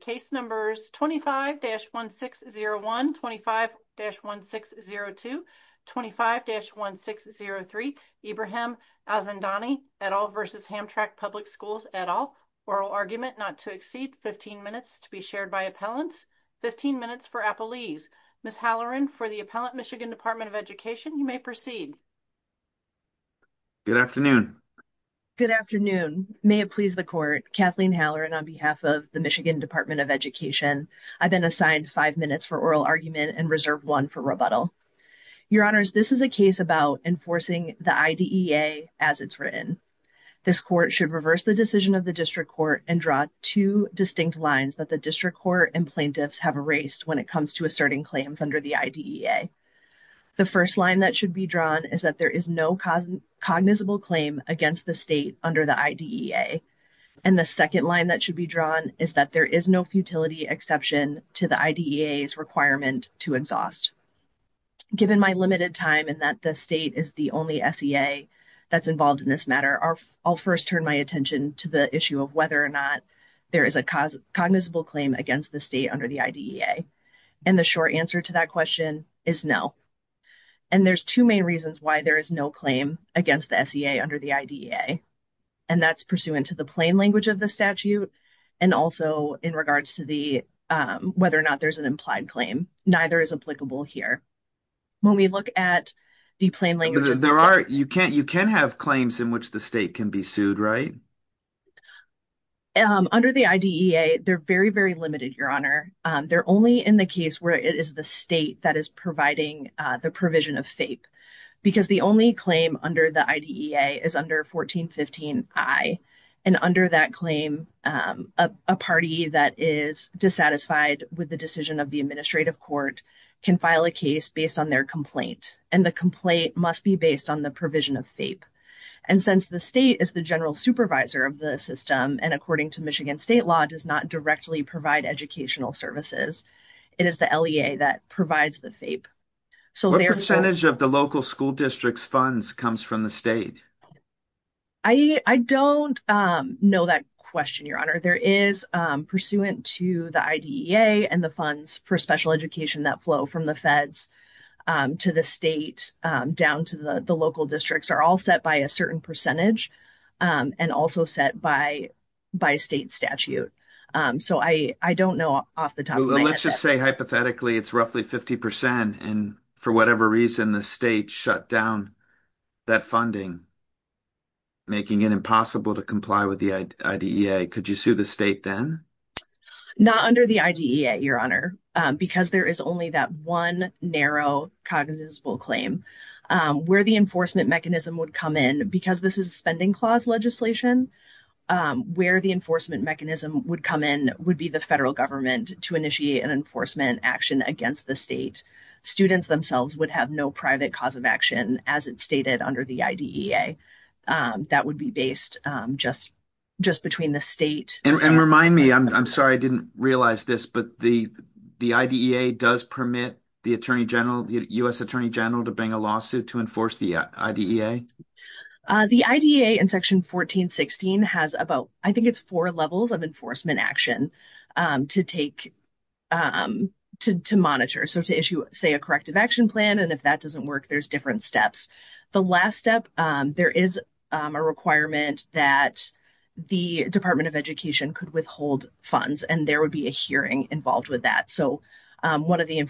Case numbers 25-1601, 25-1602, 25-1603, Ibrahim Alzandani et al. v. Hamtramck Public Schools et al. Oral argument not to exceed 15 minutes to be shared by appellants. 15 minutes for appellees. Ms. Halloran, for the Appellant, Michigan Department of Education, you may proceed. Good afternoon. Good afternoon. May it please the court, Kathleen Halloran, on behalf of the Michigan Department of Education. I've been assigned five minutes for oral argument and reserve one for rebuttal. Your Honors, this is a case about enforcing the IDEA as it's written. This court should reverse the decision of the District Court and draw two distinct lines that the District Court and plaintiffs have erased when it comes to asserting claims under the IDEA. The first line that should be drawn is that there is no cognizable claim against the state under the IDEA. And the second line that should be drawn is that there is no futility exception to the IDEA's requirement to exhaust. Given my limited time and that the state is the only SEA that's involved in this matter, I'll first turn my attention to the issue of whether or not there is a cognizable claim against the state under the IDEA. And the short answer to that question is no. And there's two main reasons why there is no claim against the SEA under the IDEA. And that's pursuant to the plain language of the statute and also in regards to whether or not there's an implied claim. Neither is applicable here. When we look at the plain language of the statute. You can have claims in which the state can be sued, right? Under the IDEA, they're very, very limited, Your Honor. They're only in the case where it is the state that is providing the provision of FAPE. Because the only claim under the IDEA is under 1415I. And under that claim, a party that is dissatisfied with the decision of the administrative court can file a case based on their complaint. And the complaint must be based on the provision of FAPE. And since the state is the general supervisor of the system and according to Michigan state law does not provide educational services, it is the LEA that provides the FAPE. What percentage of the local school district's funds comes from the state? I don't know that question, Your Honor. There is pursuant to the IDEA and the funds for special education that flow from the feds to the state down to the local districts are all set by a I don't know off the top of my head. Let's just say hypothetically, it's roughly 50%. And for whatever reason, the state shut down that funding, making it impossible to comply with the IDEA. Could you sue the state then? Not under the IDEA, Your Honor, because there is only that one narrow cognizant claim where the enforcement mechanism would come in because this is a spending clause legislation where the enforcement mechanism would come in would be the federal government to initiate an enforcement action against the state. Students themselves would have no private cause of action as it's stated under the IDEA. That would be based just between the state and And remind me, I'm sorry, I didn't realize this, but the IDEA does permit the Attorney General, the U.S. Attorney General to bring a lawsuit to enforce the IDEA? The IDEA in Section 1416 has about, I think it's four levels of enforcement action to take to monitor. So to issue, say, a corrective action plan, and if that doesn't work, there's different steps. The last step, there is a requirement that the Department of Education could withhold funds, and there would be a hearing involved with that. So one of the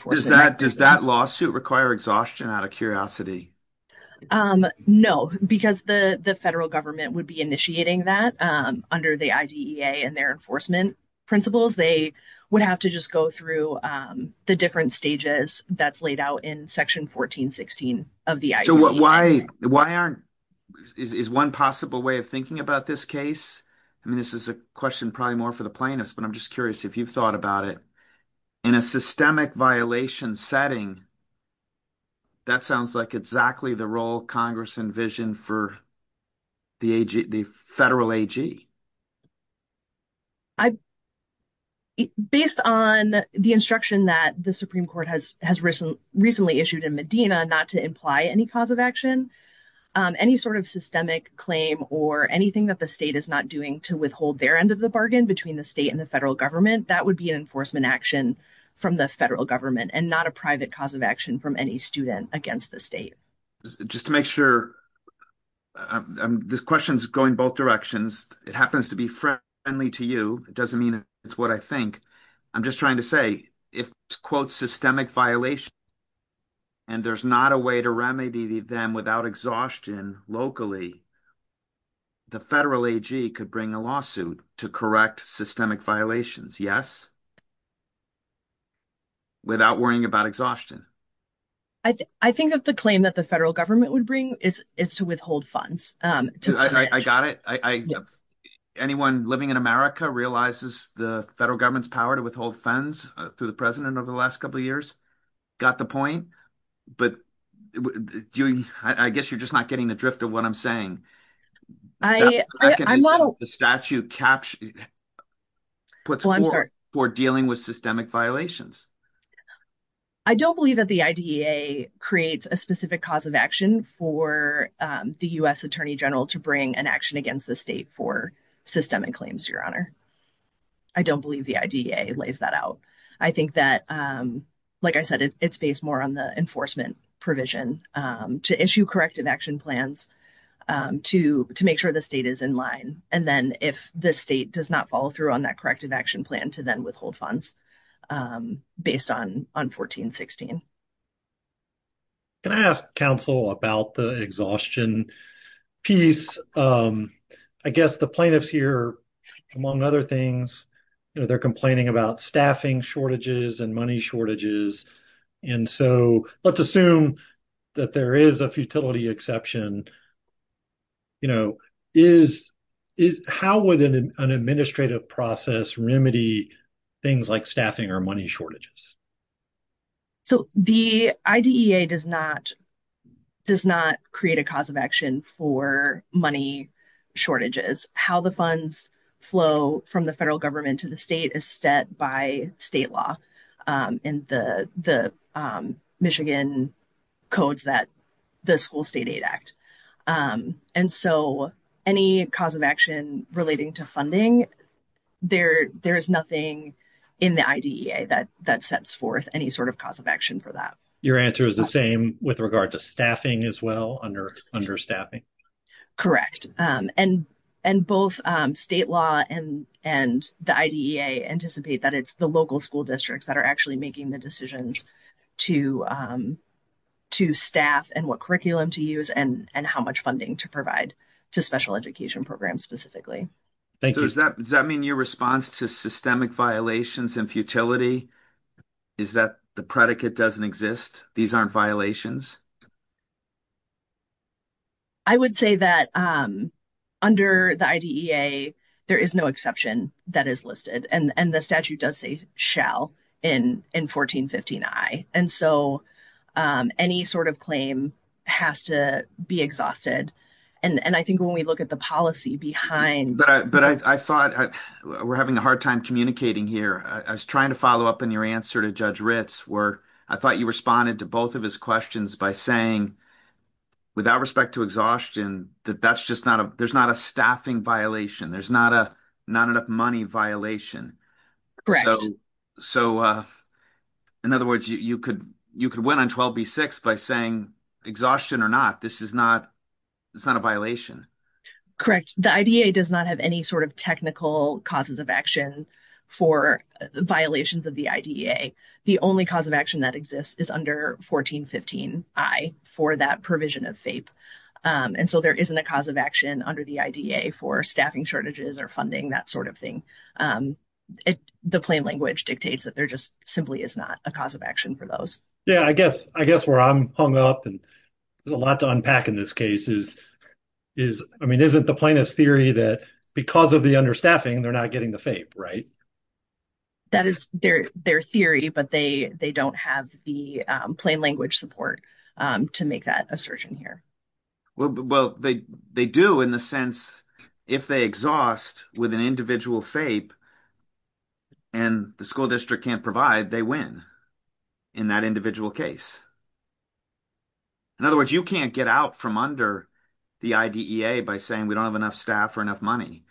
Does that lawsuit require exhaustion out of curiosity? No, because the federal government would be initiating that under the IDEA and their enforcement principles. They would have to just go through the different stages that's laid out in Section 1416 of the IDEA. So why aren't, is one possible way of thinking about this case, I mean, this is a question probably more for the plaintiffs, but I'm just curious if you've thought about it. In a systemic violation setting, that sounds like exactly the role Congress envisioned for the federal AG. Based on the instruction that the Supreme Court has recently issued in Medina not to imply any cause of action, any sort of systemic claim or anything that the state is not doing to withhold their end of the bargain between the state and the federal government, and not a private cause of action from any student against the state. Just to make sure, this question's going both directions. It happens to be friendly to you. It doesn't mean it's what I think. I'm just trying to say, if it's, quote, systemic violation, and there's not a way to remedy them without exhaustion locally, the federal AG could bring a lawsuit to correct systemic violations, yes? Without worrying about exhaustion. I think that the claim that the federal government would bring is to withhold funds. I got it. Anyone living in America realizes the federal government's power to withhold funds through the president over the last couple of years? Got the point? But I guess you're not getting the drift of what I'm saying. The statute puts forth for dealing with systemic violations. I don't believe that the IDEA creates a specific cause of action for the U.S. Attorney General to bring an action against the state for systemic claims, your honor. I don't believe the IDEA lays that out. I think that, like I said, it's based more on the enforcement provision to issue corrective action plans to make sure the state is in line. And then if the state does not follow through on that corrective action plan to then withhold funds based on 1416. Can I ask counsel about the exhaustion piece? I guess the plaintiffs here, among other things, they're complaining about staffing shortages and money shortages. And so let's assume that there is a futility exception. How would an administrative process remedy things like staffing or money shortages? So the IDEA does not create a cause of action for money shortages. How the funds flow from the the Michigan codes that the school state aid act. And so any cause of action relating to funding, there is nothing in the IDEA that sets forth any sort of cause of action for that. Your answer is the same with regard to staffing as well under staffing? Correct. And both state law and the IDEA anticipate that it's the local school districts that are actually making the decisions to staff and what curriculum to use and how much funding to provide to special education programs specifically. Does that mean your response to systemic violations and futility is that the predicate doesn't exist? These aren't violations? I would say that under the IDEA, there is no exception that is listed and the statute does say in 1415I. And so any sort of claim has to be exhausted. And I think when we look at the policy behind. But I thought we're having a hard time communicating here. I was trying to follow up in your answer to Judge Ritz where I thought you responded to both of his questions by saying without respect to exhaustion, that that's just not a there's not a staffing violation. There's not a not enough money violation. So in other words, you could you could win on 12B6 by saying exhaustion or not. This is not it's not a violation. Correct. The IDEA does not have any sort of technical causes of action for violations of the IDEA. The only cause of action that exists is under 1415I for that provision of FAPE. And so there isn't a cause of action under the IDEA for staffing shortages or funding, that sort of thing. The plain language dictates that there just simply is not a cause of action for those. Yeah, I guess I guess where I'm hung up and there's a lot to unpack in this case is is I mean, isn't the plaintiff's theory that because of the understaffing, they're not getting the FAPE, right? That is their their theory, but they they don't have the plain support to make that assertion here. Well, they they do in the sense if they exhaust with an individual FAPE and the school district can't provide, they win in that individual case. In other words, you can't get out from under the IDEA by saying we don't have enough staff for enough money.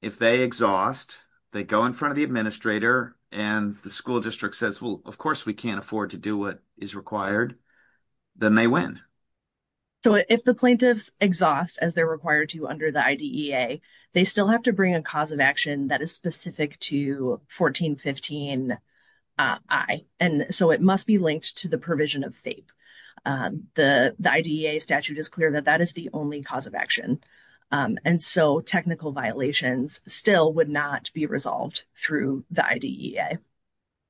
If they exhaust, they go in front of the administrator and the school district says, well, of course we can't afford to do what is required, then they win. So if the plaintiffs exhaust as they're required to under the IDEA, they still have to bring a cause of action that is specific to 1415I. And so it must be linked to the provision of FAPE. The IDEA statute is clear that that is the only cause of action. And so technical violations still would not be resolved through the IDEA.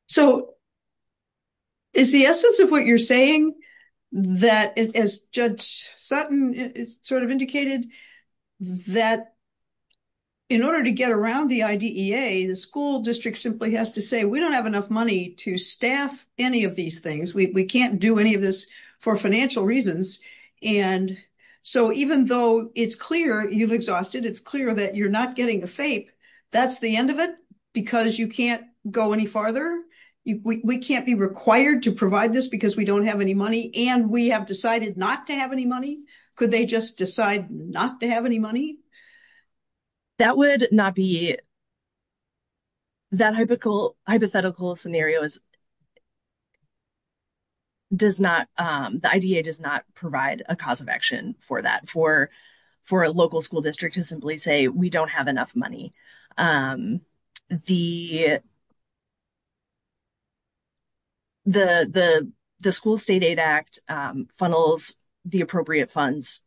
So is the essence of what you're saying that, as Judge Sutton sort of indicated, that in order to get around the IDEA, the school district simply has to say we don't have enough money to staff any of these things. We can't do any of this for financial reasons. And so even though it's clear you've exhausted, it's clear that you're not getting the FAPE. That's the further? We can't be required to provide this because we don't have any money and we have decided not to have any money? Could they just decide not to have any money? That would not be that hypothetical scenario. The IDEA does not provide a cause of action for that, for a local school district to simply say we don't have enough money. The School State Aid Act funnels the appropriate funds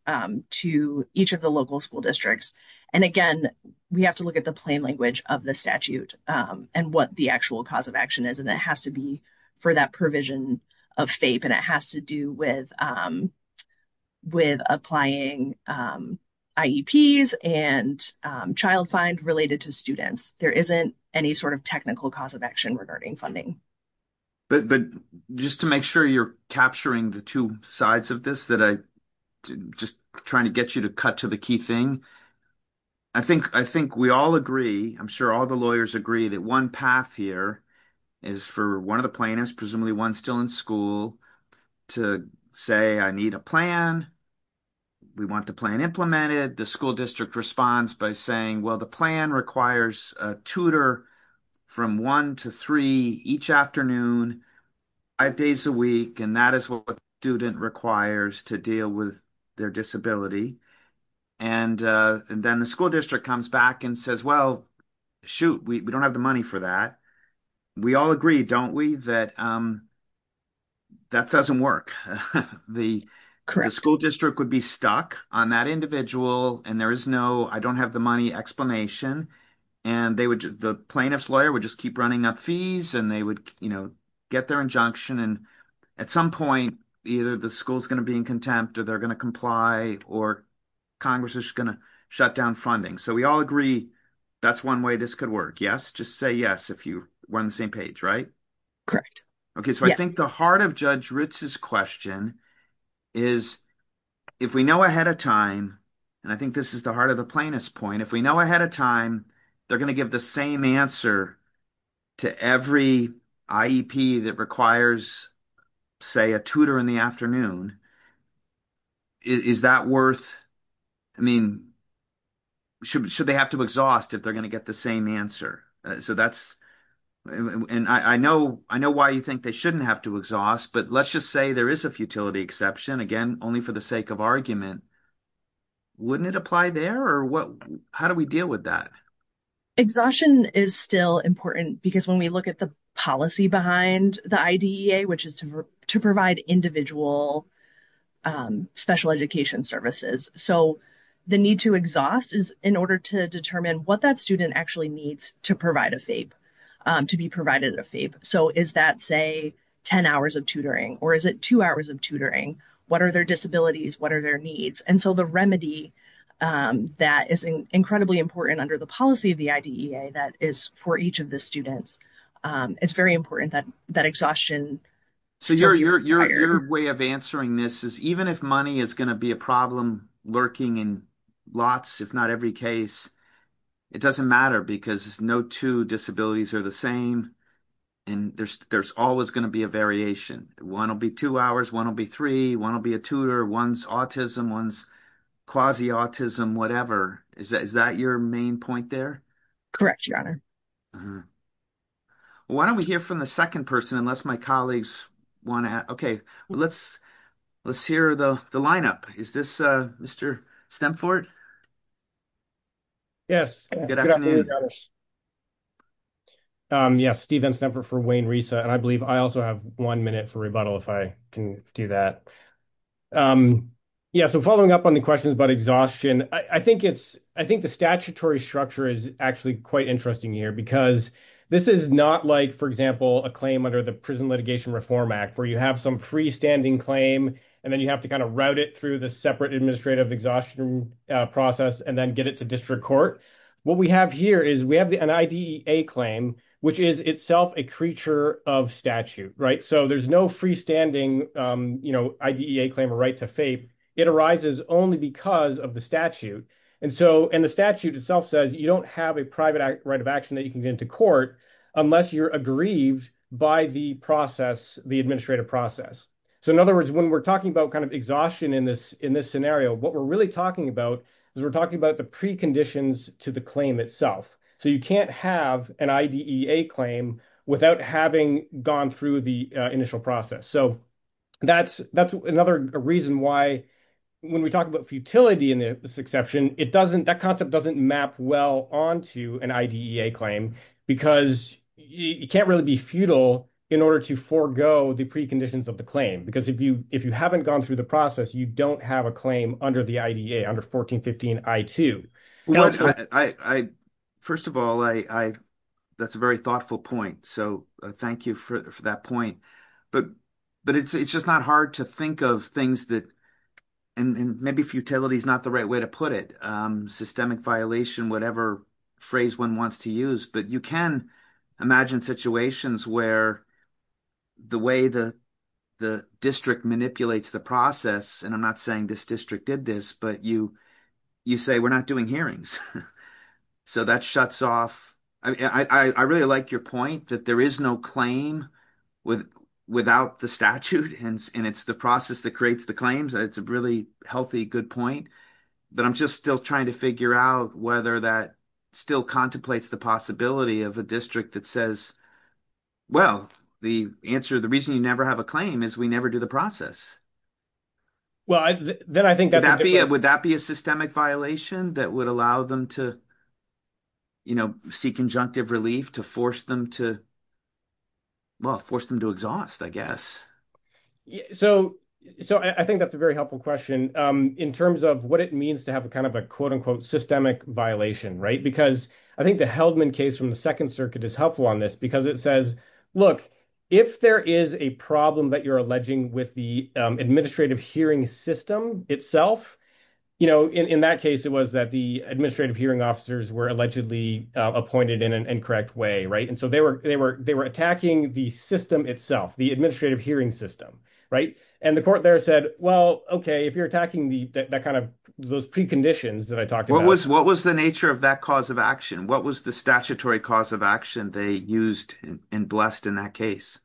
to each of the local school districts. And again, we have to look at the plain language of the statute and what the actual cause of action has to be for that provision of FAPE. And it has to do with applying IEPs and child fines related to students. There isn't any sort of technical cause of action regarding funding. But just to make sure you're capturing the two sides of this that I'm just trying to get you to cut to the key thing, I think we all agree, I'm sure all the lawyers agree, that one path here is for one of the plaintiffs, presumably one still in school, to say, I need a plan. We want the plan implemented. The school district responds by saying, well, the plan requires a tutor from one to three each afternoon, five days a week. And that is what a student requires to deal with their disability. And then the school district comes back and says, well, shoot, we don't have the money for that. We all agree, don't we, that that doesn't work. The school district would be stuck on that individual, and there is no I don't have the money explanation. And the plaintiff's lawyer would just keep running up fees, and they would get their injunction. And at some point, either the school's going to be in contempt, or they're going to comply, or Congress is going to shut down funding. So we all agree, that's one way this could work. Yes? Just say yes, if you were on the same page, right? Okay. So I think the heart of Judge Ritz's question is, if we know ahead of time, and I think this is the heart of the plaintiff's point, if we know ahead of time, they're going to give the same answer to every IEP that requires, say, a tutor in the afternoon. Is that worth, I mean, should they have to exhaust if they're going to get the same answer? So that's, and I know, I know why you think they shouldn't have to exhaust, but let's just say there is a futility exception, again, only for the sake of argument. Wouldn't it apply there? Or what, how do we deal with that? Exhaustion is still important, because when we look at the policy behind the IDEA, which is to provide individual special education services. So the need to exhaust is in order to determine what that student actually needs to provide a FAPE, to be provided a FAPE. So is that, say, 10 hours of tutoring, or is it two hours of tutoring? What are their disabilities? What are their needs? And so the remedy that is incredibly important under the of the IDEA that is for each of the students, it's very important that that exhaustion. So your way of answering this is even if money is going to be a problem lurking in lots, if not every case, it doesn't matter because no two disabilities are the same. And there's always going to be a variation. One will be two hours, one will be three, one will be a tutor, one's autism, one's quasi-autism, whatever. Is that your main point there? Correct, your honor. Why don't we hear from the second person, unless my colleagues want to, okay, let's hear the lineup. Is this Mr. Stemfort? Yes, good afternoon. Yes, Stephen Stemfort for Wayne RESA, and I believe I also have one minute for rebuttal if I can do that. Yeah, so following up on the questions about exhaustion, I think it's, I think the statutory structure is actually quite interesting here because this is not like, for example, a claim under the Prison Litigation Reform Act where you have some freestanding claim and then you have to kind of route it through the separate administrative exhaustion process and then get it to district court. What we have here is we have an IDEA claim, which is itself a creature of statute, right? So there's no freestanding IDEA claim or right to fape. It arises only because of the statute. And so, and the statute itself says you don't have a private right of action that you can get into court unless you're aggrieved by the process, the administrative process. So in other words, when we're talking about kind of exhaustion in this scenario, what we're really talking about is we're talking about the preconditions to the claim itself. So you can't have an IDEA claim without having gone through the initial process. So that's another reason why when we talk about futility in this exception, it doesn't, that concept doesn't map well onto an IDEA claim because you can't really be futile in order to forego the preconditions of the claim. Because if you haven't gone through the process, you don't have a claim under the IDEA, under 1415 I-2. First of all, that's a very thoughtful point. So thank you for that point. But it's just not hard to think of things that, and maybe futility is not the right way to put it, systemic violation, whatever phrase one wants to use. But you can imagine situations where the way the district manipulates the process, and I'm not saying this district did this, but you say we're not doing hearings. So that shuts off. I really like your point that there is no claim without the statute and it's the process that creates the claims. It's a really healthy, good point. But I'm just still trying to figure out whether that still contemplates the possibility of a district that says, well, the answer, the reason you never have a claim is we never do the process. Would that be a systemic violation that would allow them to seek conjunctive relief to force them to, well, force them to exhaust, I guess. So I think that's a very helpful question in terms of what it means to have a quote-unquote systemic violation. Because I think the Heldman case from the Second Circuit is helpful on this because it says, look, if there is a problem that you're alleging with the administrative hearing system itself, in that case, it was that the administrative hearing officers were allegedly appointed in an incorrect way. And so they were attacking the system itself, the administrative hearing system. And the court there said, well, okay, if you're attacking that kind of those preconditions that I talked about. What was the nature of that cause of action? What was the statutory cause of action they used and blessed in that case?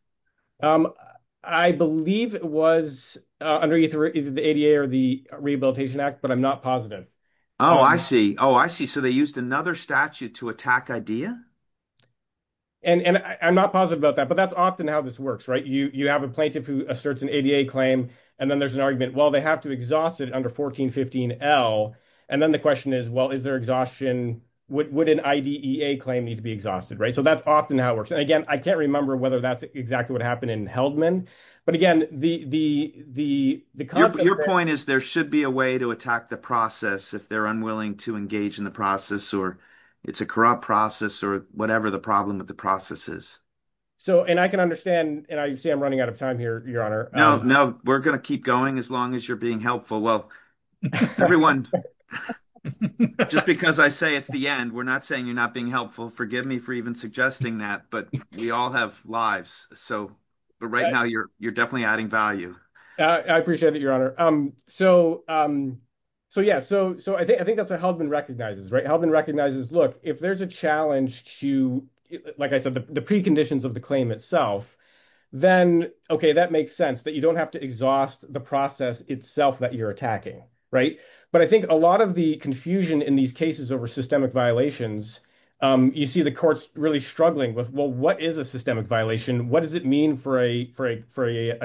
I believe it was under either the ADA or the Rehabilitation Act, but I'm not positive. Oh, I see. Oh, I see. So they used another statute to attack IDEA? And I'm not positive about that, but that's often how this works, right? You have a plaintiff who asserts an ADA claim, and then there's an argument, well, they have to exhaust it under 1415 L. And then the question is, well, is there exhaustion? Would an IDEA claim need to be exhausted, right? So that's often how it works. And again, I can't remember whether that's exactly what happened in Heldman. But again, the concept- Your point is there should be a way to attack the process if they're unwilling to engage in the process or it's a corrupt process or whatever the problem with the process is. So, and I can understand, and I see I'm running out of time here, Your Honor. No, no, we're going to keep going as long as you're being helpful. Well, everyone, just because I say it's the end, we're not saying you're not being helpful. Forgive me for even suggesting that, but we all have lives. So, but right now you're definitely adding value. I appreciate it, Your Honor. So, yeah. So I think that's what Heldman recognizes, right? Heldman recognizes, look, if there's a challenge to, like I said, the preconditions of the claim itself, then, okay, that makes sense that you don't have to exhaust the process itself that you're attacking, right? But I think a lot of the confusion in these cases over systemic violations, you see the courts really struggling with, well, what is a systemic violation? What does it mean for a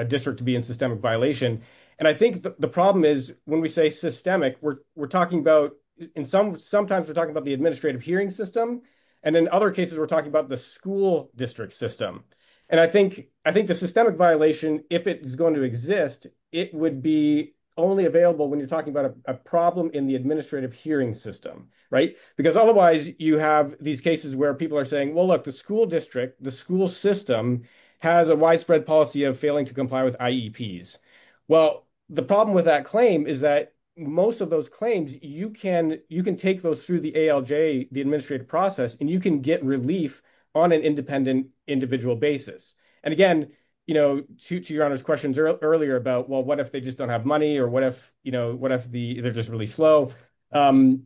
district to be in systemic violation? And I think the problem is when we say systemic, we're talking about in some, sometimes we're talking about the administrative hearing system. And in other cases, we're talking about the school district system. And I think the systemic violation, if it's going to exist, it would be only available when you're talking about a problem in the administrative hearing system, right? Because otherwise you have these cases where people are saying, well, look, the school district, the school system has a widespread policy of failing to comply with IEPs. Well, the problem with that claim is that most of those claims, you can take those through the ALJ, the administrative process, and you can get relief on an independent, individual basis. And again, to your Honor's questions earlier about, well, what if they just don't have money or what if they're just really slow? The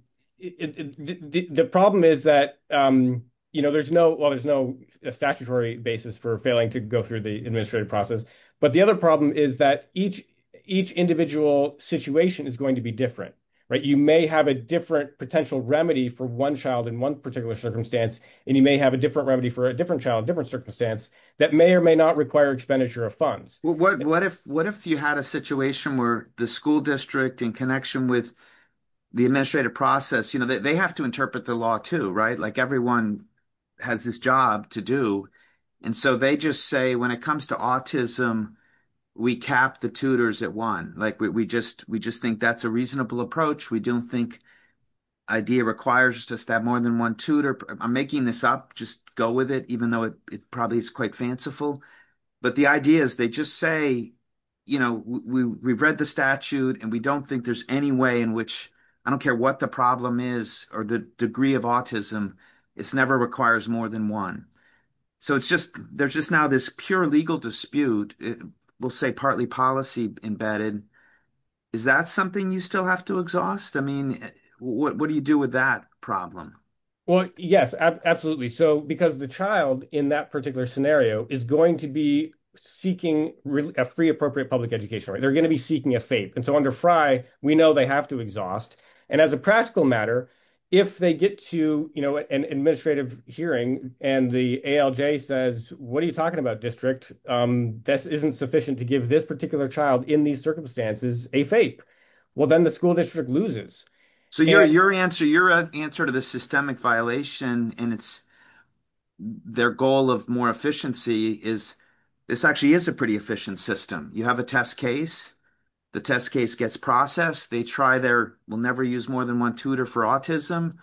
problem is that there's no statutory basis for failing to go through the administrative process. But the other problem is that each individual situation is going to be different, right? You may have a different potential remedy for one child in one particular circumstance, and you may have a different remedy for a different child, different circumstance that may or may not require expenditure of funds. What if you had a situation where the school district in connection with the administrative process, they have to interpret the law too, like everyone has this job to do. And so they just say, when it comes to autism, we cap the tutors at one. We just think that's a reasonable approach. We don't think IDEA requires us to have more than one tutor. I'm making this up. Just go with it, even though it probably is quite fanciful. But the idea is they just say, we've read the statute, and we don't think there's any way in which, I don't care what the problem is or the degree of autism, it's never requires more than one. So there's just now this pure legal dispute, we'll say partly policy embedded. Is that something you still have to exhaust? I mean, what do you do with that problem? Well, yes, absolutely. So because the child in that particular scenario is going to be seeking a free appropriate public education, they're going to be seeking a FAPE. And so under FRI, we know they have to exhaust. And as a practical matter, if they get to an administrative hearing, and the ALJ says, what are you talking about, district? This isn't sufficient to give this particular child in these circumstances a FAPE. Well, then the school district loses. So your answer to the systemic violation, and it's their goal of more efficiency, is this actually is a pretty efficient system. You have a test case, the test case gets processed, they try their will never use more than one tutor for autism.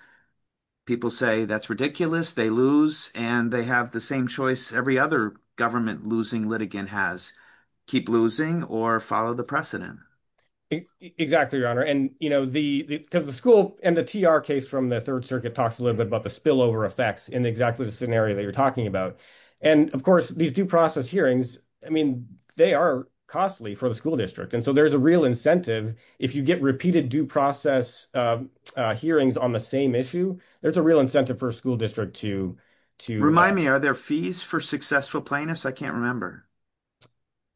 People say that's ridiculous, they lose, and they have the same choice every other government losing litigant has, keep losing or follow the precedent. Exactly, Your Honor. And, you know, the because the school and the TR case from the Third Circuit talks a little bit about the spillover effects in exactly the scenario that you're talking about. And of course, these due process hearings, I mean, they are costly for the school district. And so there's a real incentive. If you get repeated due process hearings on the same issue, there's a real incentive for a school district to... Remind me, are there fees for successful plaintiffs? I can't remember.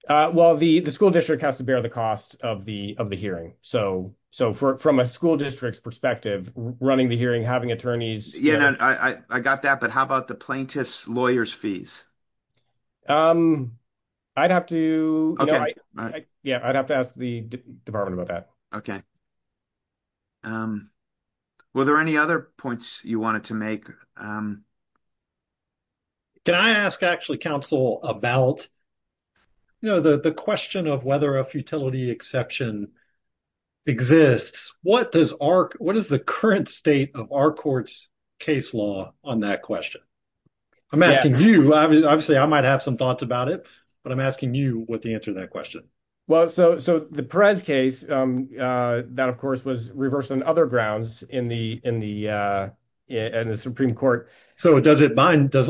Well, the school district has to bear the cost of the hearing. So from a school district's perspective, running the hearing, having attorneys... Yeah, I got that. But how about the plaintiff's lawyer's fees? I'd have to... Yeah, I'd have to ask the department about that. Okay. Were there any other points you wanted to make? Can I ask actually, counsel, about the question of whether a futility exception exists? What is the current state of our court's case law on that question? I'm asking you. Obviously, I might have some thoughts about it, but I'm asking you what the answer to that question. Well, so the Perez case, that of course was reversed on other grounds in the Supreme Court. So does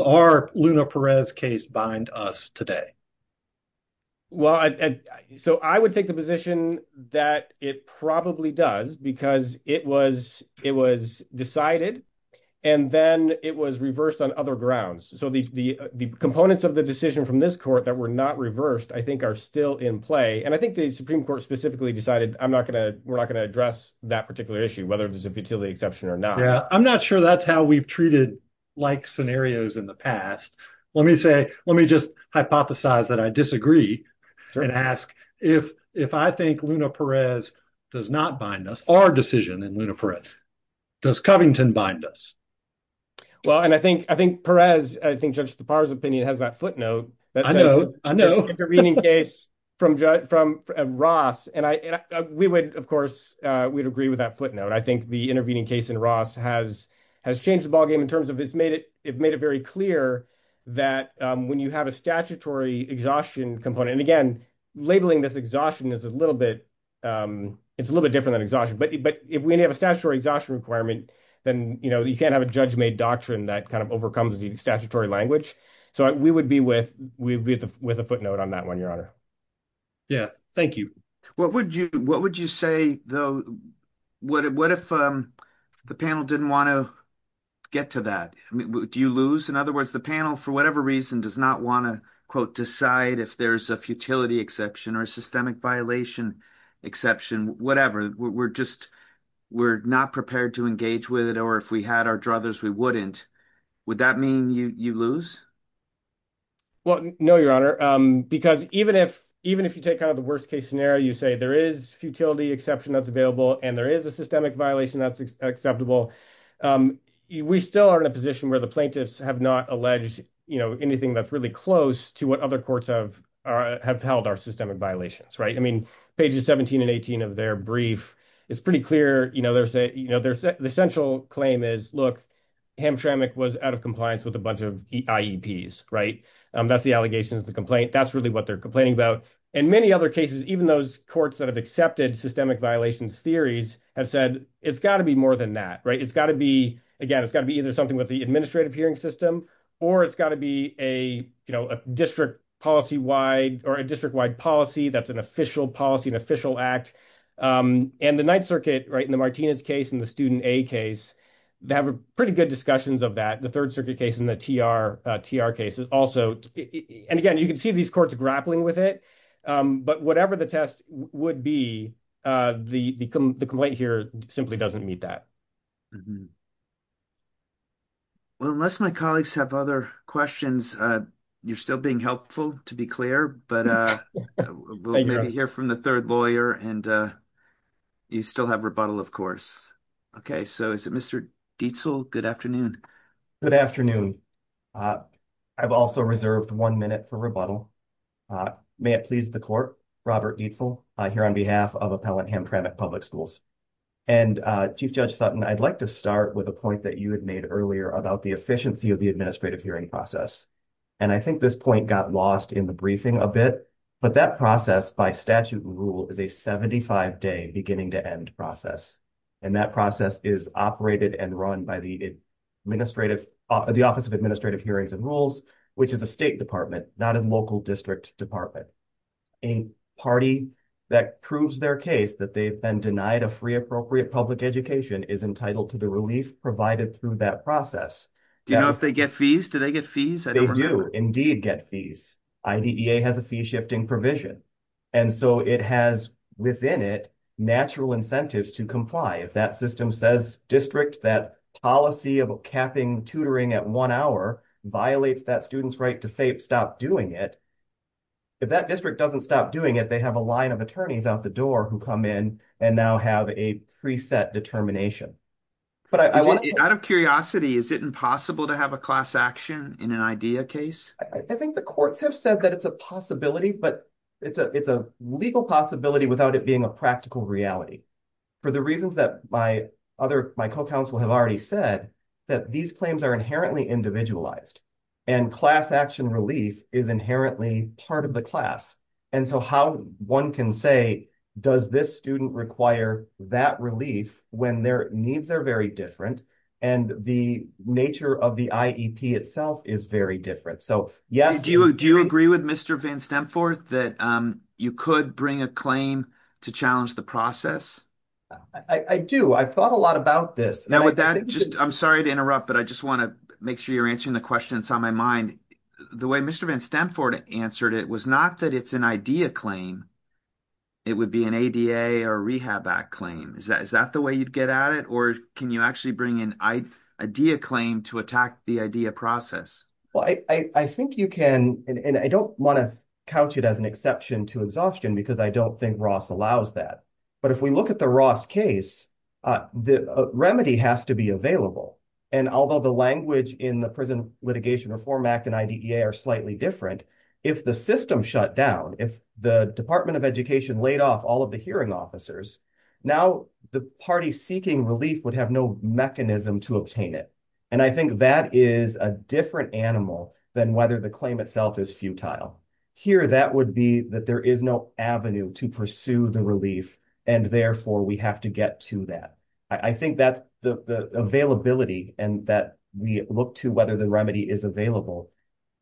our Luna Perez case bind us today? Well, so I would take the position that it probably does because it was decided, and then it was reversed on other grounds. So the components of the decision from this court that were not reversed, I think are still in play. And I think the Supreme Court specifically decided we're not going to address that particular issue, whether it's a futility exception or not. Yeah. I'm not sure that's how we've treated like scenarios in the past. Let me just hypothesize that I disagree and ask if I think Luna Perez does not bind us, our decision in Luna Perez, does Covington bind us? Well, and I think Perez, I think Judge Tapar's opinion has that footnote. I know, I know. The intervening case from Ross. And we would, of course, we'd agree with that footnote. I think the intervening case in Ross has changed the ballgame in terms of it's made it very clear that when you have a statutory exhaustion component, and again, labeling this exhaustion is a little bit, it's a little bit different than exhaustion. But if we have a statutory exhaustion requirement, then, you know, you can't have a judge made doctrine that kind of overcomes the statutory language. So we would be with a footnote on that one, Your Honor. Yeah, thank you. What would you say, though? What if the panel didn't want to get to that? Do you lose? In other reason does not want to, quote, decide if there's a futility exception or systemic violation, exception, whatever, we're just, we're not prepared to engage with it. Or if we had our druthers, we wouldn't. Would that mean you lose? Well, no, Your Honor. Because even if, even if you take out the worst case scenario, you say there is futility exception that's available, and there is a systemic violation that's acceptable. We still are in a position where the plaintiffs have not alleged, you know, anything that's really close to what other courts have, have held our systemic violations, right? I mean, pages 17 and 18 of their brief, it's pretty clear, you know, there's a, you know, there's the central claim is, look, Hamtramck was out of compliance with a bunch of IEPs, right? That's the allegations, the complaint, that's really what they're complaining about. In many other cases, even those courts that have accepted systemic violations theories have said, it's got to be more than that, right? It's got to be, again, it's got to be either something with the administrative hearing system, or it's got to be a, you know, a district policy wide or a district wide policy that's an official policy and official act. And the Ninth Circuit, right, in the Martinez case, in the Student A case, they have a pretty good discussions of that. The Third Circuit case in the TR case is also, and again, you can see these courts grappling with it, but whatever the test would be, the complaint here simply doesn't meet that. Well, unless my colleagues have other questions, you're still being helpful, to be clear, but we'll maybe hear from the third lawyer and you still have rebuttal, of course. Okay, so is it Mr. Dietzel? Good afternoon. Good afternoon. I've also reserved one minute for rebuttal. May it please the court, Robert Dietzel, here on behalf of Appellant Hamtramck Public And Chief Judge Sutton, I'd like to start with a point that you had made earlier about the efficiency of the administrative hearing process. And I think this point got lost in the briefing a bit, but that process by statute and rule is a 75-day beginning to end process. And that process is operated and run by the Office of Administrative Hearings and Rules, which is a state department, not a local district department. A party that proves their case that they've been denied a free appropriate public education is entitled to the relief provided through that process. Do you know if they get fees? Do they get fees? I don't remember. They do indeed get fees. IDEA has a fee-shifting provision. And so it has within it natural incentives to comply. If that system says district that policy of capping tutoring at one hour violates that student's right to stop doing it, if that district doesn't stop doing it, they have a line of attorneys out the door who come in and now have a preset determination. Out of curiosity, is it impossible to have a class action in an IDEA case? I think the courts have said that it's a possibility, but it's a legal possibility without it being a practical reality. For the reasons that my co-counsel have already said, that these claims are inherently individualized and class action relief is inherently part of the class. And so how one can say, does this student require that relief when their needs are very different and the nature of the IEP itself is very different. So, yes. Do you agree with Mr. Van Stemforth that you could bring a claim to challenge the process? I do. I've thought a lot about this. I'm sorry to interrupt, but I just want to make sure you're answering the questions on my mind. The way Mr. Van Stemforth answered it was not that it's an IDEA claim. It would be an ADA or a Rehab Act claim. Is that the way you'd get at it? Or can you actually bring an IDEA claim to attack the IDEA process? Well, I think you can, and I don't want to couch it as an exception to exhaustion because I don't think Ross allows that. But if we look at the Ross case, the remedy has to be available. And although the language in the Prison Litigation Reform Act and IDEA are slightly different, if the system shut down, if the Department of Education laid off all of the hearing officers, now the party seeking relief would have no mechanism to obtain it. And I think that is a different animal than whether the claim itself is futile. Here, that would be that there is no avenue to pursue the relief, and therefore we have to get to that. I think that the availability and that we look to whether the remedy is available,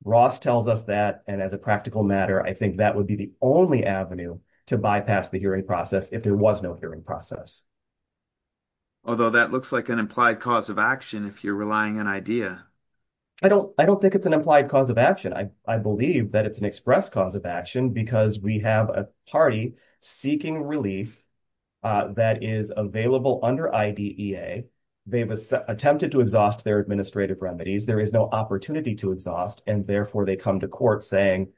Ross tells us that, and as a practical matter, I think that would be the only avenue to bypass the hearing process if there was no hearing process. Although that looks like an implied cause of action if you're relying on IDEA. I don't think it's an implied cause of action. I believe that it's an express cause of action because we have a party seeking relief that is available under IDEA. They've attempted to exhaust their administrative remedies. There is no opportunity to exhaust, and therefore they come to court saying,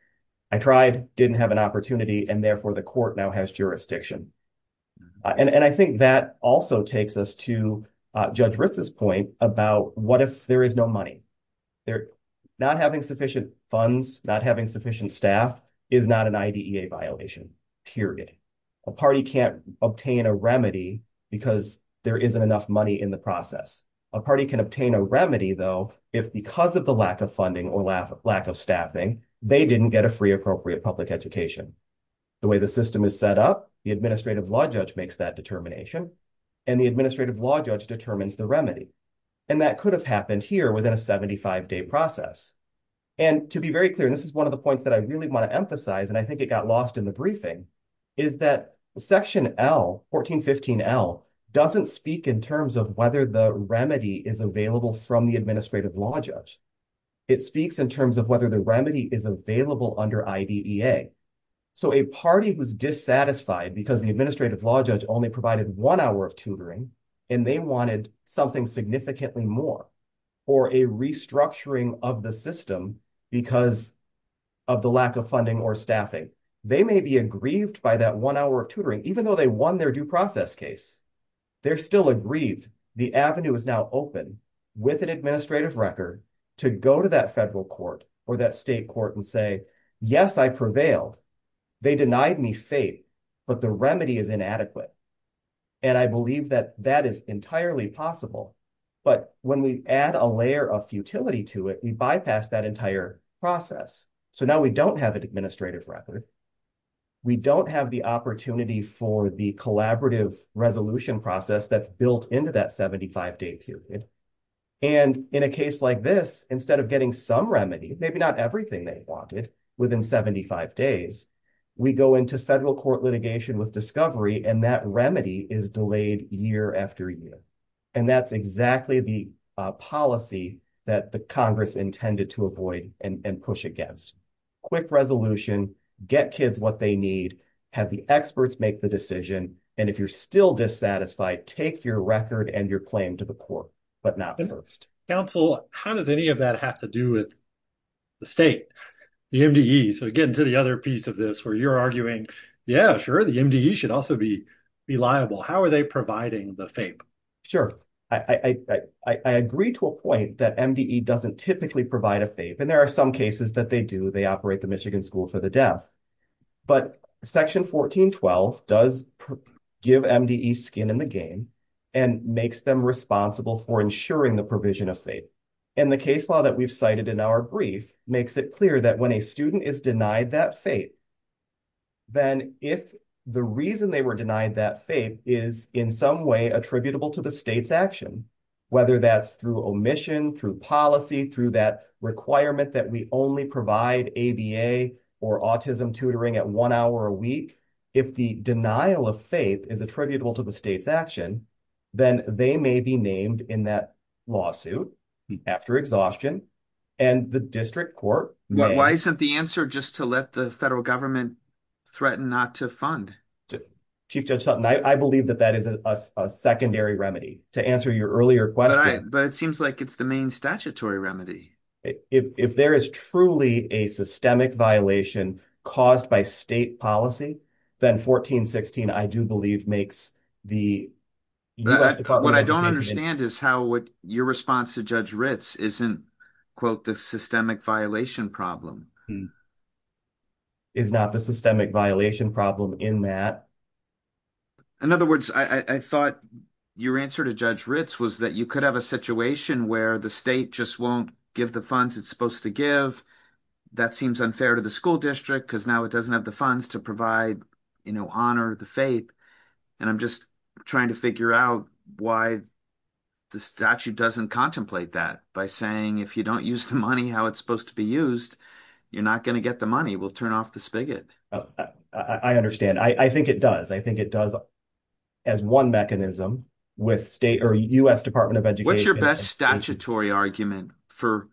I tried, didn't have an opportunity, and therefore the court now has jurisdiction. And I think that also takes us to Judge Ritz's point about what if there is no remedy. Not having sufficient funds, not having sufficient staff is not an IDEA violation, period. A party can't obtain a remedy because there isn't enough money in the process. A party can obtain a remedy, though, if because of the lack of funding or lack of staffing, they didn't get a free appropriate public education. The way the system is set up, the administrative law judge makes that determination, and the administrative law judge determines the remedy. And that could have happened here within a 75-day process. And to be very clear, and this is one of the points that I really want to emphasize, and I think it got lost in the briefing, is that Section L, 1415L, doesn't speak in terms of whether the remedy is available from the administrative law judge. It speaks in terms of whether the remedy is available under IDEA. So, a party who's dissatisfied because the administrative law judge only provided one hour of tutoring, and they wanted something significantly more, or a restructuring of the system because of the lack of funding or staffing, they may be aggrieved by that one hour of tutoring, even though they won their due process case. They're still aggrieved. The avenue is now open with an administrative record to go to that federal court and say, yes, I prevailed. They denied me fate, but the remedy is inadequate. And I believe that that is entirely possible. But when we add a layer of futility to it, we bypass that entire process. So, now we don't have an administrative record. We don't have the opportunity for the collaborative resolution process that's built into that 75-day period. And in a case like this, instead of getting some remedy, maybe not everything they wanted within 75 days, we go into federal court litigation with discovery, and that remedy is delayed year after year. And that's exactly the policy that the Congress intended to avoid and push against. Quick resolution, get kids what they need, have the experts make the decision, and if you're still dissatisfied, take your record and your claim to the court, but not first. Counsel, how does any of that have to do with the state, the MDE? So, again, to the other piece of this, where you're arguing, yeah, sure, the MDE should also be liable. How are they providing the FAPE? Sure. I agree to a point that MDE doesn't typically provide a FAPE, and there are some cases that they do. They operate the Michigan School for the Deaf. But Section 1412 does give MDE skin in the game and makes them responsible for ensuring the provision of FAPE. And the case law that we've cited in our brief makes it clear that when a student is denied that FAPE, then if the reason they were denied that FAPE is in some way attributable to the state's action, whether that's through omission, through policy, through that requirement that we only provide ABA or autism tutoring at one hour a week, if the denial of FAPE is attributable to the state's action, then they may be named in that lawsuit after exhaustion, and the district court. Why isn't the answer just to let the federal government threaten not to fund? Chief Judge Sutton, I believe that that is a secondary remedy. To answer your earlier question. But it seems like it's the main statutory remedy. If there is truly a systemic violation caused by state policy, then 1416, I do believe, makes the U.S. Department of Education. What I don't understand is how your response to Judge Ritz isn't, quote, the systemic violation problem. Is not the systemic violation problem in that. In other words, I thought your answer to Judge Ritz was that you could have a situation where the state just won't give the funds it's supposed to give. That seems unfair to the school district because now it doesn't have the funds to provide, you know, honor the FAPE. And I'm just trying to figure out why the statute doesn't contemplate that by saying if you don't use the money how it's supposed to be used, you're not going to get the money. We'll turn off the spigot. I understand. I think it does. I think it does as one mechanism with state or U.S. Department of Education. What's your best statutory argument for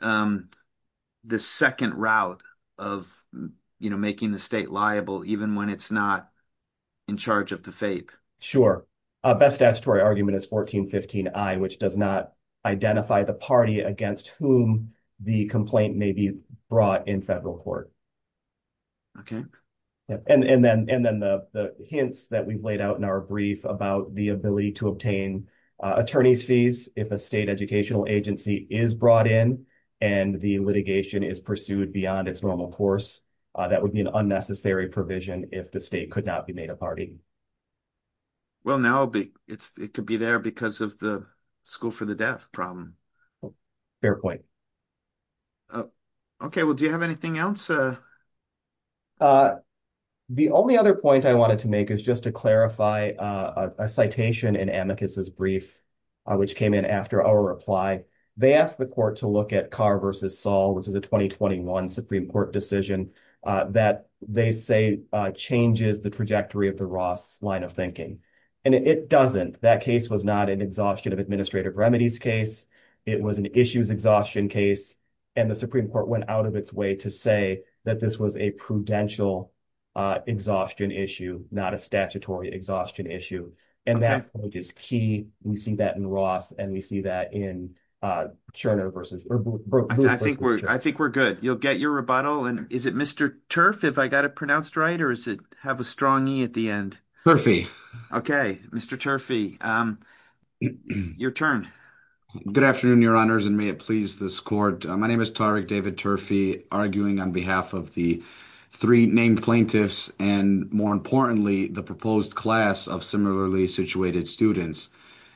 the second route of, you know, making the state liable even when it's not in charge of the FAPE? Sure. Best statutory argument is 1415, I, which does not identify the party against whom the complaint may be brought in federal court. Okay. And then the hints that we've laid out in our brief about the ability to obtain attorney's fees if a state educational agency is brought in and the litigation is pursued beyond its normal course, that would be an unnecessary provision if the state could not be made a party. Well, now it could be there because of the school for the deaf problem. Fair point. Okay. Well, do you have anything else? The only other point I wanted to make is just to clarify a citation in Amicus's brief, which came in after our reply. They asked the court to look at Carr versus Saul, which is a 2021 Supreme Court decision that they say changes the trajectory of the Ross line of thinking. And it doesn't. That case was not an exhaustion of administrative remedies case. It was an issues exhaustion case. And the Supreme Court went out of its way to say that this was a prudential exhaustion issue, not a statutory exhaustion issue. And that point is key. We see that in Ross and we see that in Turner versus I think we're, I think we're good. You'll get your rebuttal. And is it Mr. Turf? If I got it pronounced right, or is it have a strong E at the end? Turfy. Okay. Mr. Turfy. Your turn. Good afternoon, your honors. And may it please this court. My name is Tariq David Turfy arguing on behalf of the three named plaintiffs and more importantly, the proposed class of similarly situated students.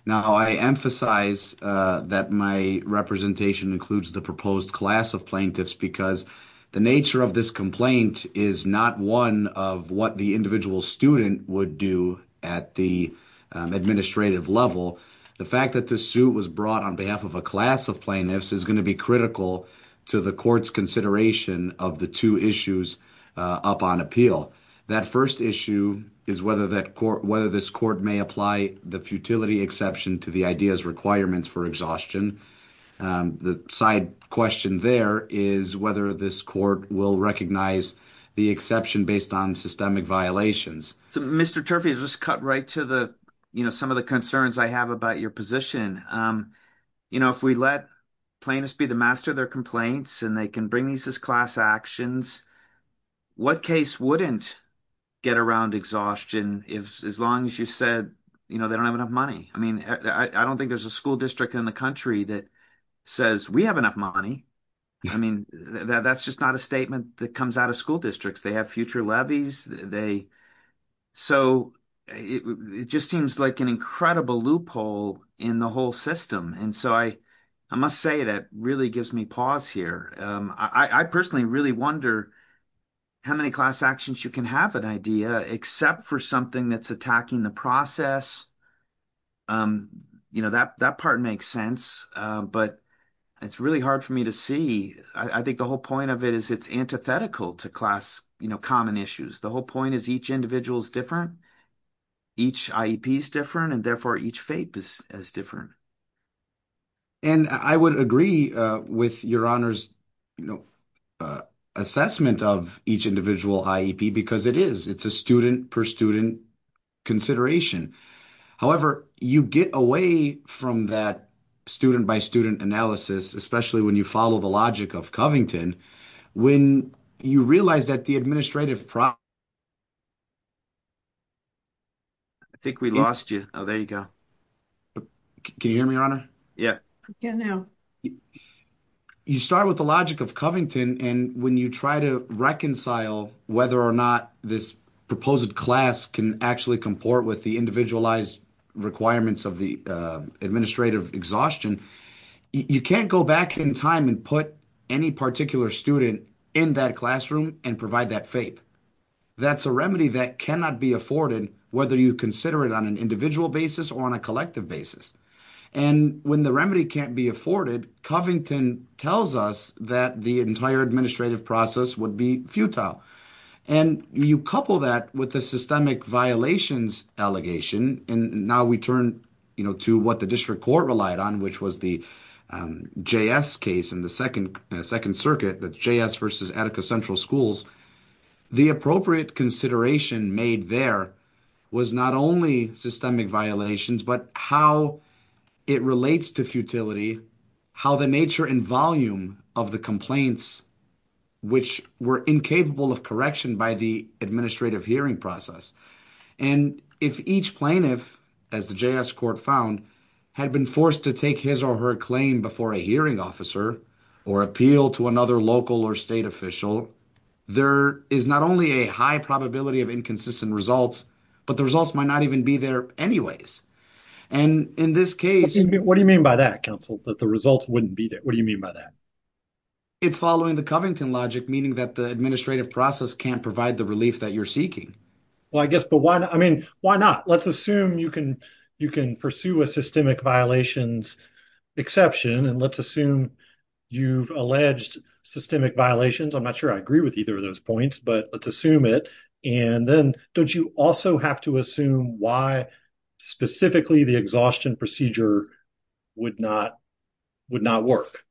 Now I emphasize that my representation includes the proposed class of plaintiffs because the nature of this complaint is not one of what the individual student would do at the administrative level. The fact that the suit was brought on behalf of a class of plaintiffs is going to be critical to the court's consideration of the two issues up on appeal. That first issue is whether that court, whether this court may apply the futility exception to the ideas requirements for exhaustion. The side question there is whether this court will recognize the exception based on systemic violations. So Mr. Turfy has just cut right to the, you know, some of the concerns I have about your position. You know, if we let plaintiffs be the master of their complaints and they can bring these class actions, what case wouldn't get around exhaustion if as long as you said, you know, they don't have enough money. I mean, I don't think there's a school district in the country that says we have enough money. I mean, that's just not a statement that comes out of school districts. They have future levies. So it just seems like an incredible loophole in the whole system. And so I must say that really gives me pause here. I personally really wonder how many class actions you can have an idea except for something that's attacking the process. You know, that part makes sense, but it's really hard for me to see. I think the whole point of it is it's antithetical to class, you know, common issues. The whole point is each individual's different. Each IEP is different and therefore each FAPE is different. And I would agree with your honors, you know, assessment of each individual IEP because it is, it's a student per student consideration. However, you get away from that student by student analysis, especially when you follow the logic of Covington. When you realize that the administrative exhaustion, I think we lost you. Oh, there you go. Can you hear me, your honor? Yeah. Yeah. Now you start with the logic of Covington and when you try to reconcile whether or not this proposed class can actually comport with the individualized requirements of the administrative exhaustion, you can't go back in time and put any particular student in that classroom and provide that FAPE. That's a remedy that cannot be afforded whether you consider it on an individual basis or on a collective basis. And when the remedy can't be afforded, Covington tells us that the entire administrative process would be futile. And you couple that with the systemic violations allegation and now we turn, you know, to what the district court relied on, which was the JS case in the second circuit, that's JS versus Attica Central Schools. The appropriate consideration made there was not only systemic violations, but how it relates to futility, how the nature and volume of the complaints, which were incapable of correction by the administrative hearing process. And if each plaintiff, as the JS court found, had been forced to take his or her claim before a hearing officer or appeal to another local or state official, there is not only a high probability of inconsistent results, but the results might not even be there anyways. And in this case... What do you mean by that, counsel, that the results wouldn't be there? What do you mean by that? It's following the Covington logic, meaning that the administrative process can't provide the relief that you're seeking. Well, I guess, but why not? Why not? Let's assume you can pursue a systemic violations exception and let's assume you've alleged systemic violations. I'm not sure I agree with either of those points, but let's assume it. And then don't you also have to assume why specifically the exhaustion procedure would not work?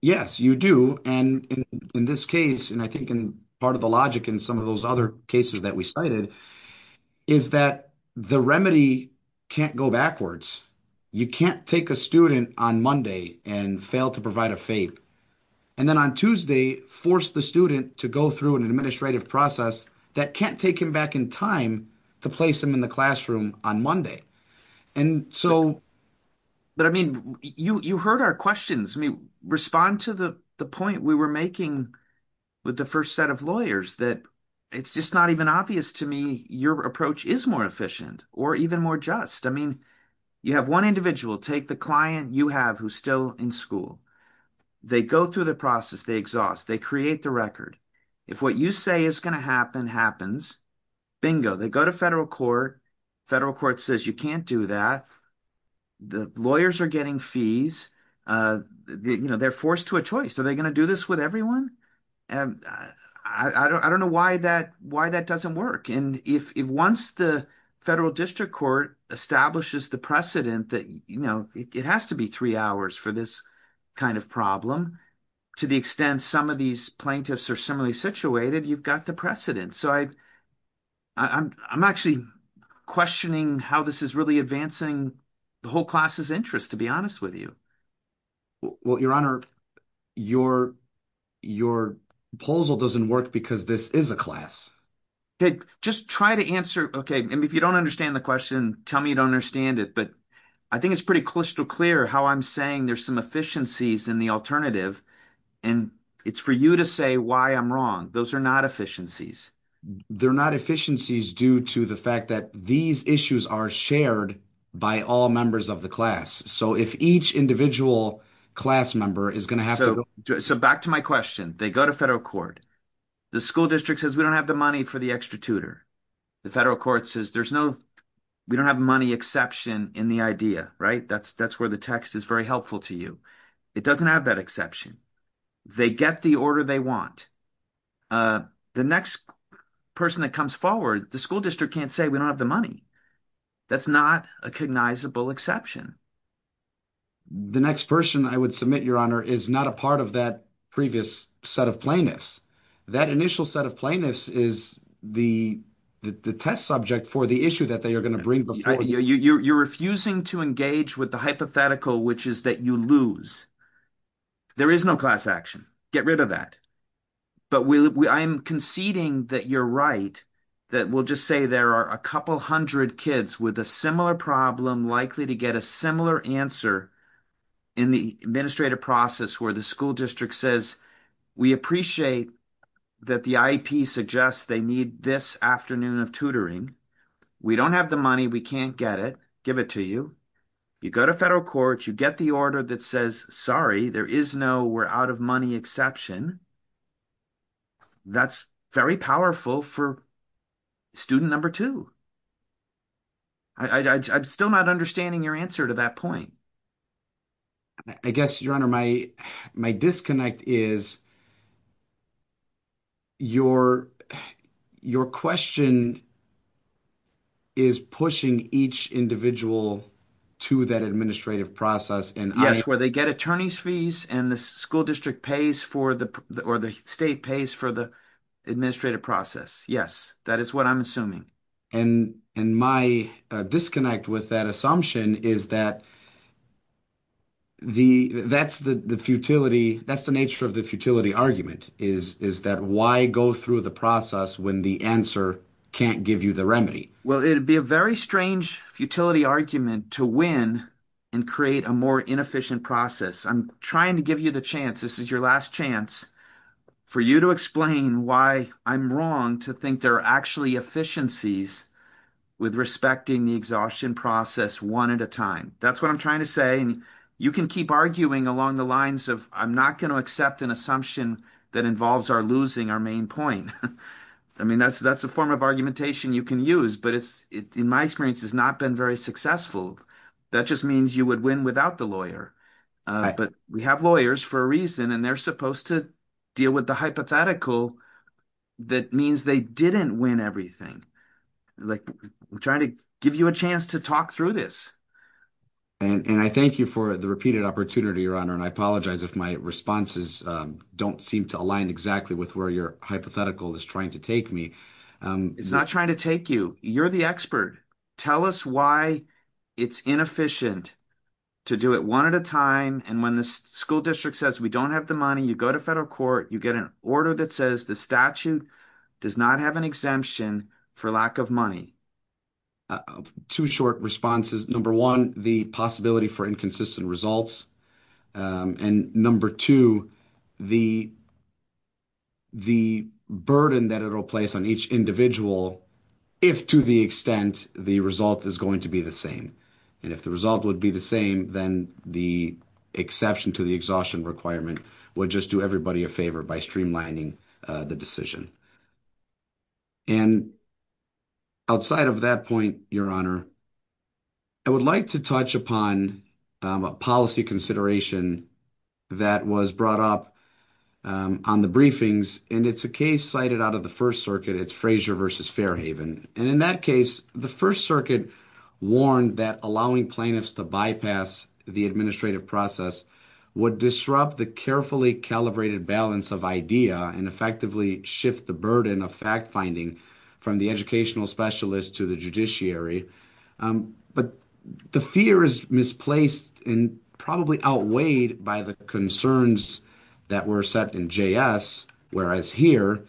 Yes, you do. And in this case, and I think in part of the logic in some of those other cases that we cited, is that the remedy can't go backwards. You can't take a student on Monday and fail to provide a fate. And then on Tuesday, force the student to go through an administrative process that can't take him back in time to place him in the classroom on Monday. And so... But I mean, you heard our questions. I mean, respond to the point we were making with the set of lawyers that it's just not even obvious to me your approach is more efficient or even more just. I mean, you have one individual, take the client you have who's still in school. They go through the process, they exhaust, they create the record. If what you say is going to happen, happens. Bingo. They go to federal court. Federal court says you can't do that. The lawyers are getting fees. They're forced to a choice. Are they going to do this with everyone? I don't know why that doesn't work. And if once the federal district court establishes the precedent that it has to be three hours for this kind of problem, to the extent some of these plaintiffs are similarly situated, you've got the precedent. So I'm actually questioning how this is really advancing the whole class's interest, to be honest with you. Well, your honor, your proposal doesn't work because this is a class. Okay. Just try to answer. Okay. And if you don't understand the question, tell me you don't understand it, but I think it's pretty crystal clear how I'm saying there's some efficiencies in the alternative and it's for you to say why I'm wrong. Those are not efficiencies. They're not efficiencies due to the fact that these issues are shared by all members of the class. So back to my question, they go to federal court. The school district says, we don't have the money for the extra tutor. The federal court says, we don't have money exception in the idea. That's where the text is very helpful to you. It doesn't have that exception. They get the order they want. The next person that comes forward, the school district can't say we don't have the money. That's not a cognizable exception. The next person I would submit, your honor, is not a part of that previous set of plaintiffs. That initial set of plaintiffs is the test subject for the issue that they are going to bring. You're refusing to engage with the hypothetical, which is that you lose. There is no class action. Get rid of that. But I'm conceding that you're right, that we'll just say there are a couple hundred kids with a similar problem likely to get a similar answer in the administrative process where the school district says, we appreciate that the IEP suggests they need this afternoon of tutoring. We don't have the money. We can't get it. Give it to you. You go to federal court. You get the order that says, sorry, there is no we're out of money exception. That's very powerful for student number two. I'm still not understanding your answer to that point. I guess, your honor, my disconnect is your question is pushing each individual to that administrative process. Yes, where they get attorney's fees and the school district pays for the or the state pays for the administrative process. Yes, that is what I'm assuming. And my disconnect with that assumption is that that's the futility. That's the nature of the futility argument is that why go through the process when the answer can't give you the Well, it'd be a very strange futility argument to win and create a more inefficient process. I'm trying to give you the chance. This is your last chance for you to explain why I'm wrong to think there are actually efficiencies with respecting the exhaustion process one at a time. That's what I'm trying to say. And you can keep arguing along the lines of I'm not going to accept an assumption that involves our losing our main point. I mean, that's a form of argumentation you can use. But it's in my experience has not been very successful. That just means you would win without the lawyer. But we have lawyers for a reason. And they're supposed to deal with the hypothetical. That means they didn't win everything. Like, we're trying to give you a chance to talk through this. And I thank you for the repeated opportunity, your honor. And I apologize if my responses don't seem to align exactly with where your hypothetical is trying to take me. It's not trying to take you. You're the expert. Tell us why it's inefficient to do it one at a time. And when the school district says we don't have the money, you go to federal court, you get an order that says the statute does not have an exemption for lack of money. Two short responses. Number one, the possibility for inconsistent results. And number two, the the burden that it will place on each individual, if to the extent the result is going to be the same. And if the result would be the same, then the exception to the exhaustion requirement would just do everybody a favor by streamlining the decision. And outside of that your honor, I would like to touch upon a policy consideration that was brought up on the briefings. And it's a case cited out of the first circuit. It's Frazier versus Fairhaven. And in that case, the first circuit warned that allowing plaintiffs to bypass the administrative process would disrupt the carefully calibrated balance of idea and effectively shift the burden of fact finding from the educational specialist to the judiciary. But the fear is misplaced and probably outweighed by the concerns that were set in JS. Whereas here,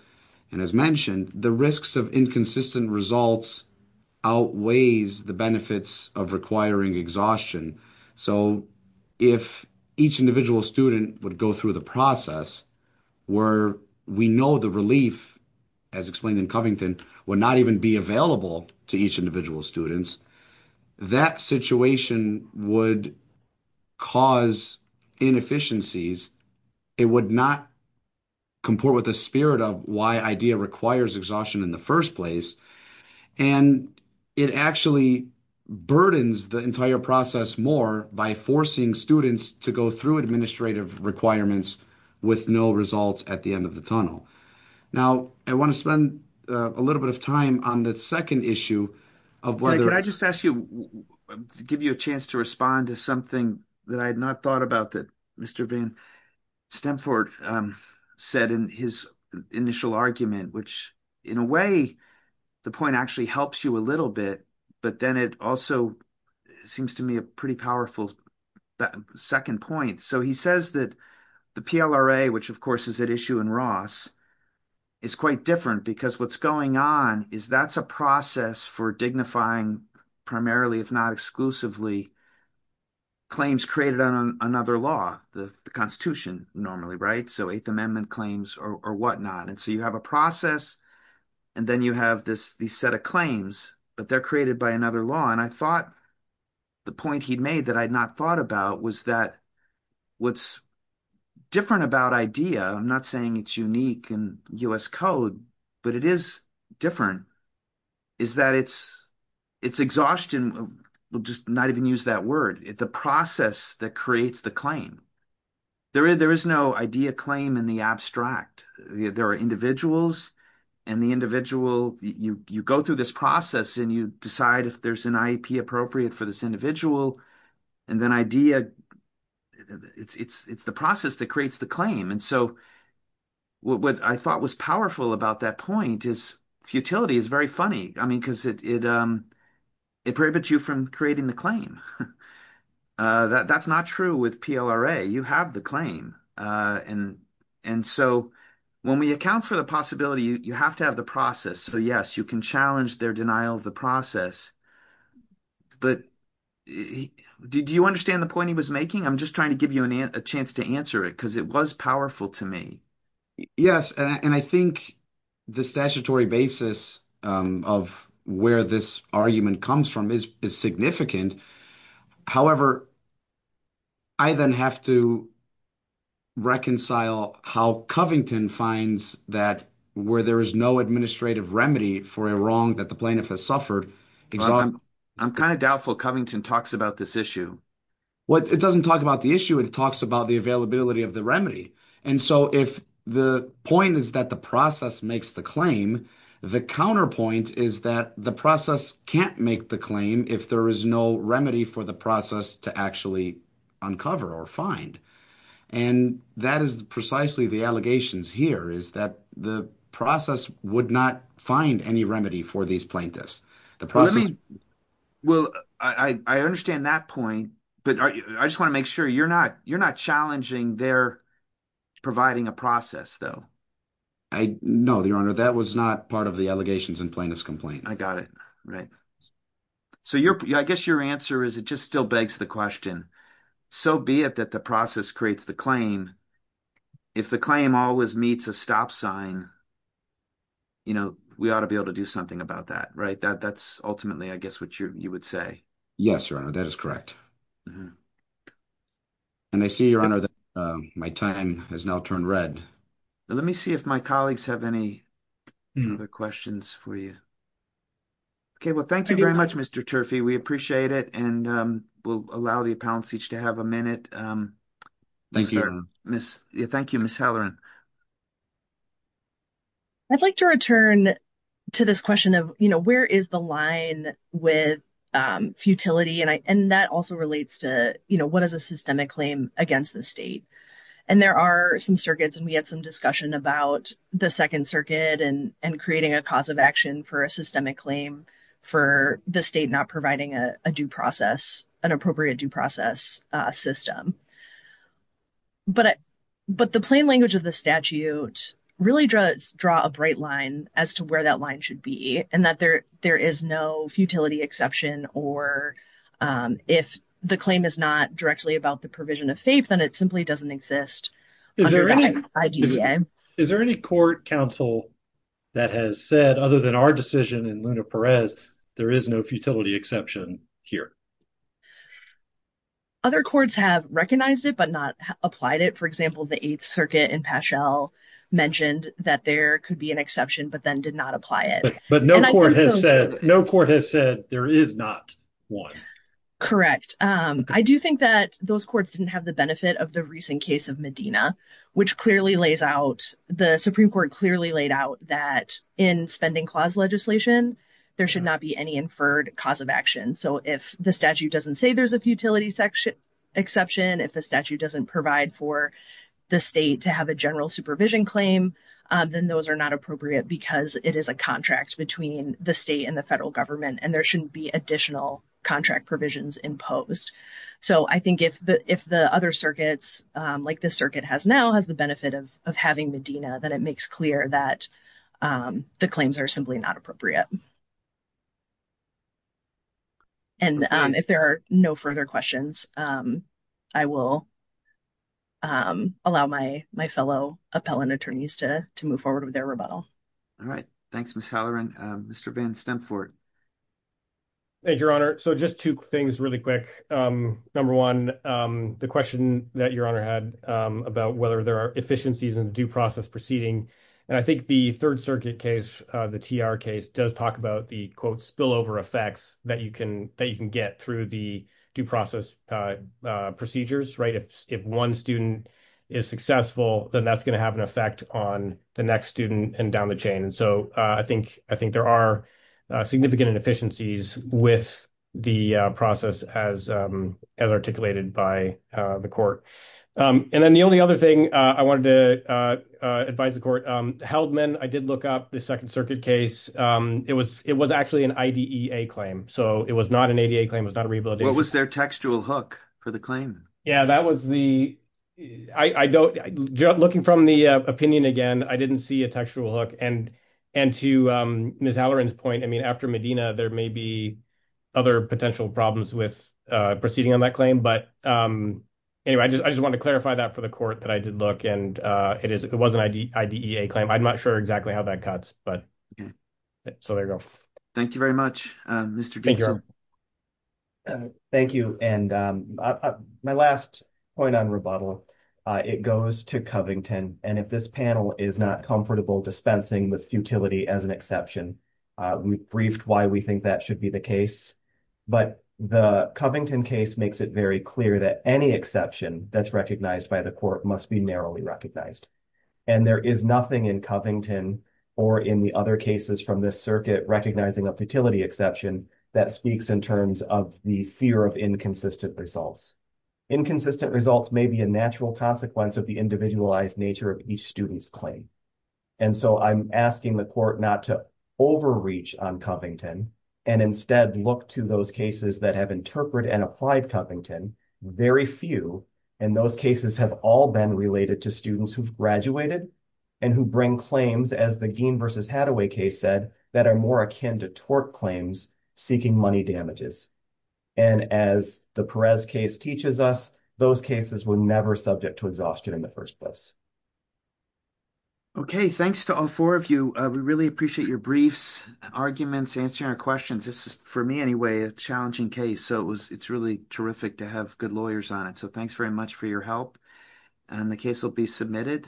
and as mentioned, the risks of inconsistent results outweighs the benefits of requiring exhaustion. So if each individual student would go through the process where we know the relief, as explained in Covington, would not even be available to each individual student, that situation would cause inefficiencies. It would not comport with the spirit of why idea requires exhaustion in the first place. And it actually burdens the entire process more by forcing students to go through administrative requirements with no results at the end of the tunnel. Now, I want to spend a little bit of time on the second issue of whether I just ask you to give you a chance to respond to something that I point actually helps you a little bit, but then it also seems to me a pretty powerful second point. So he says that the PLRA, which of course is at issue in Ross, is quite different because what's going on is that's a process for dignifying primarily, if not exclusively, claims created on another law, the Constitution normally, right? So you have a process and then you have this set of claims, but they're created by another law. And I thought the point he'd made that I'd not thought about was that what's different about idea, I'm not saying it's unique in U.S. code, but it is different, is that it's exhaustion, we'll just not even use that word, the process that creates the claim. There is no idea claim in the abstract. There are individuals and the individual, you go through this process and you decide if there's an IEP appropriate for this individual. And then idea, it's the process that creates the claim. And so what I thought was powerful about that point is futility is very funny. I mean, because it it prohibits you from creating the claim. That's not true with PLRA. You have the claim. And so when we account for the possibility, you have to have the process. So yes, you can challenge their denial of the process. But do you understand the point he was making? I'm just trying to give you a chance to answer it because it was powerful to me. Yes. And I think the statutory basis of where this argument comes from is significant. However, I then have to reconcile how Covington finds that where there is no administrative remedy for a wrong that the plaintiff has suffered. I'm kind of doubtful Covington talks about this issue. Well, it doesn't talk about the issue. It talks about the availability of the remedy. And so if the point is that the process makes the claim, the counterpoint is that the process can't make the claim if there is no remedy for the process to actually uncover or find. And that is precisely the allegations here is that the process would not find any remedy for these plaintiffs. The process. Well, I understand that point, but I just want to make sure you're not challenging their providing a process, though. I know, Your Honor, that was not part of the allegations in plaintiff's complaint. I got it. Right. So I guess your answer is it just still begs the question. So be it that the process creates the claim. If the claim always meets a stop sign. You know, we ought to be able to do something about that, right? That's ultimately, I guess, what you would say. Yes, Your Honor, that is correct. And I see, Your Honor, that my time has now turned red. Let me see if my colleagues have any other questions for you. Okay, well, thank you very much, Mr. Turfey. We appreciate it. And we'll allow the appellants each to have a minute. Thank you. Thank you, Ms. Halloran. I'd like to return to this question of, you know, where is the line with futility? And that also relates to, you know, what is a systemic claim against the state? And there are some circuits, and we had some discussion about the Second Circuit and creating a cause of action for a systemic claim for the state not providing a due process, an appropriate due process system. But the plain language of the statute really does draw a bright line as to where that line should be, and that there is no futility exception, or if the claim is not directly about the provision of faith, then it simply doesn't exist under the IGCA. Is there any court counsel that has said, other than our decision in Luna Perez, there is no futility exception here? Other courts have recognized it, but not applied it. For example, the Eighth Circuit in Paschel mentioned that there could be an exception, but then did not apply it. But no court has said there is not one. Correct. I do think that those courts didn't have the benefit of the recent case of Medina, which clearly lays out, the Supreme Court clearly laid out that in spending clause legislation, there should not be any inferred cause of action. So if the statute doesn't say there's a futility exception, if the statute doesn't provide for the state to have a general supervision claim, then those are not appropriate because it is a contract between the state and the federal government, and there shouldn't be additional contract provisions imposed. So I think if the other circuits, like this circuit has now, the benefit of having Medina, then it makes clear that the claims are simply not appropriate. And if there are no further questions, I will allow my fellow appellant attorneys to move forward with their rebuttal. All right. Thanks, Ms. Halloran. Mr. Van Stemfort. Thank you, Your Honor. So just two things really quick. Number one, the question that Your Honor had about whether there are efficiencies in due process proceeding. And I think the third circuit case, the TR case, does talk about the, quote, spillover effects that you can get through the due process procedures, right? If one student is successful, then that's going to have an effect on the next student and down the chain. And so I think there are significant inefficiencies with the process as articulated by the court. And then the only other thing I wanted to advise the court, Heldman, I did look up the Second Circuit case. It was actually an IDEA claim. So it was not an ADA claim. It was not a rehabilitation. What was their textual hook for the claim? Yeah, that was the, looking from the opinion again, I didn't see a textual hook. And to Ms. Halloran's point, I mean, after Medina, there may be other potential problems with proceeding on that claim. But anyway, I just wanted to clarify that for the court that I did look and it was an IDEA claim. I'm not sure exactly how that cuts, but so there you go. Thank you very much, Mr. Gibson. Thank you. And my last point on rebuttal, it goes to Covington. And if this panel is not comfortable dispensing with futility as an exception, we briefed why we think that should be the case. But the Covington case makes it very clear that any exception that's recognized by the court must be narrowly recognized. And there is nothing in Covington or in the other cases from this circuit recognizing a futility exception that speaks in terms of the fear of inconsistent results. Inconsistent results may be a natural consequence of the individualized nature of each student's claim. And so I'm asking the court not to overreach on Covington and instead look to those cases that have interpreted and applied Covington, very few. And those cases have all been related to students who've graduated and who bring claims as the Gein versus Hathaway case said, that are more akin to seeking money damages. And as the Perez case teaches us, those cases were never subject to exhaustion in the first place. Okay. Thanks to all four of you. We really appreciate your briefs, arguments, answering our questions. This is for me anyway, a challenging case. So it was, it's really terrific to have good lawyers on it. So thanks very much for your help. And the case will be submitted.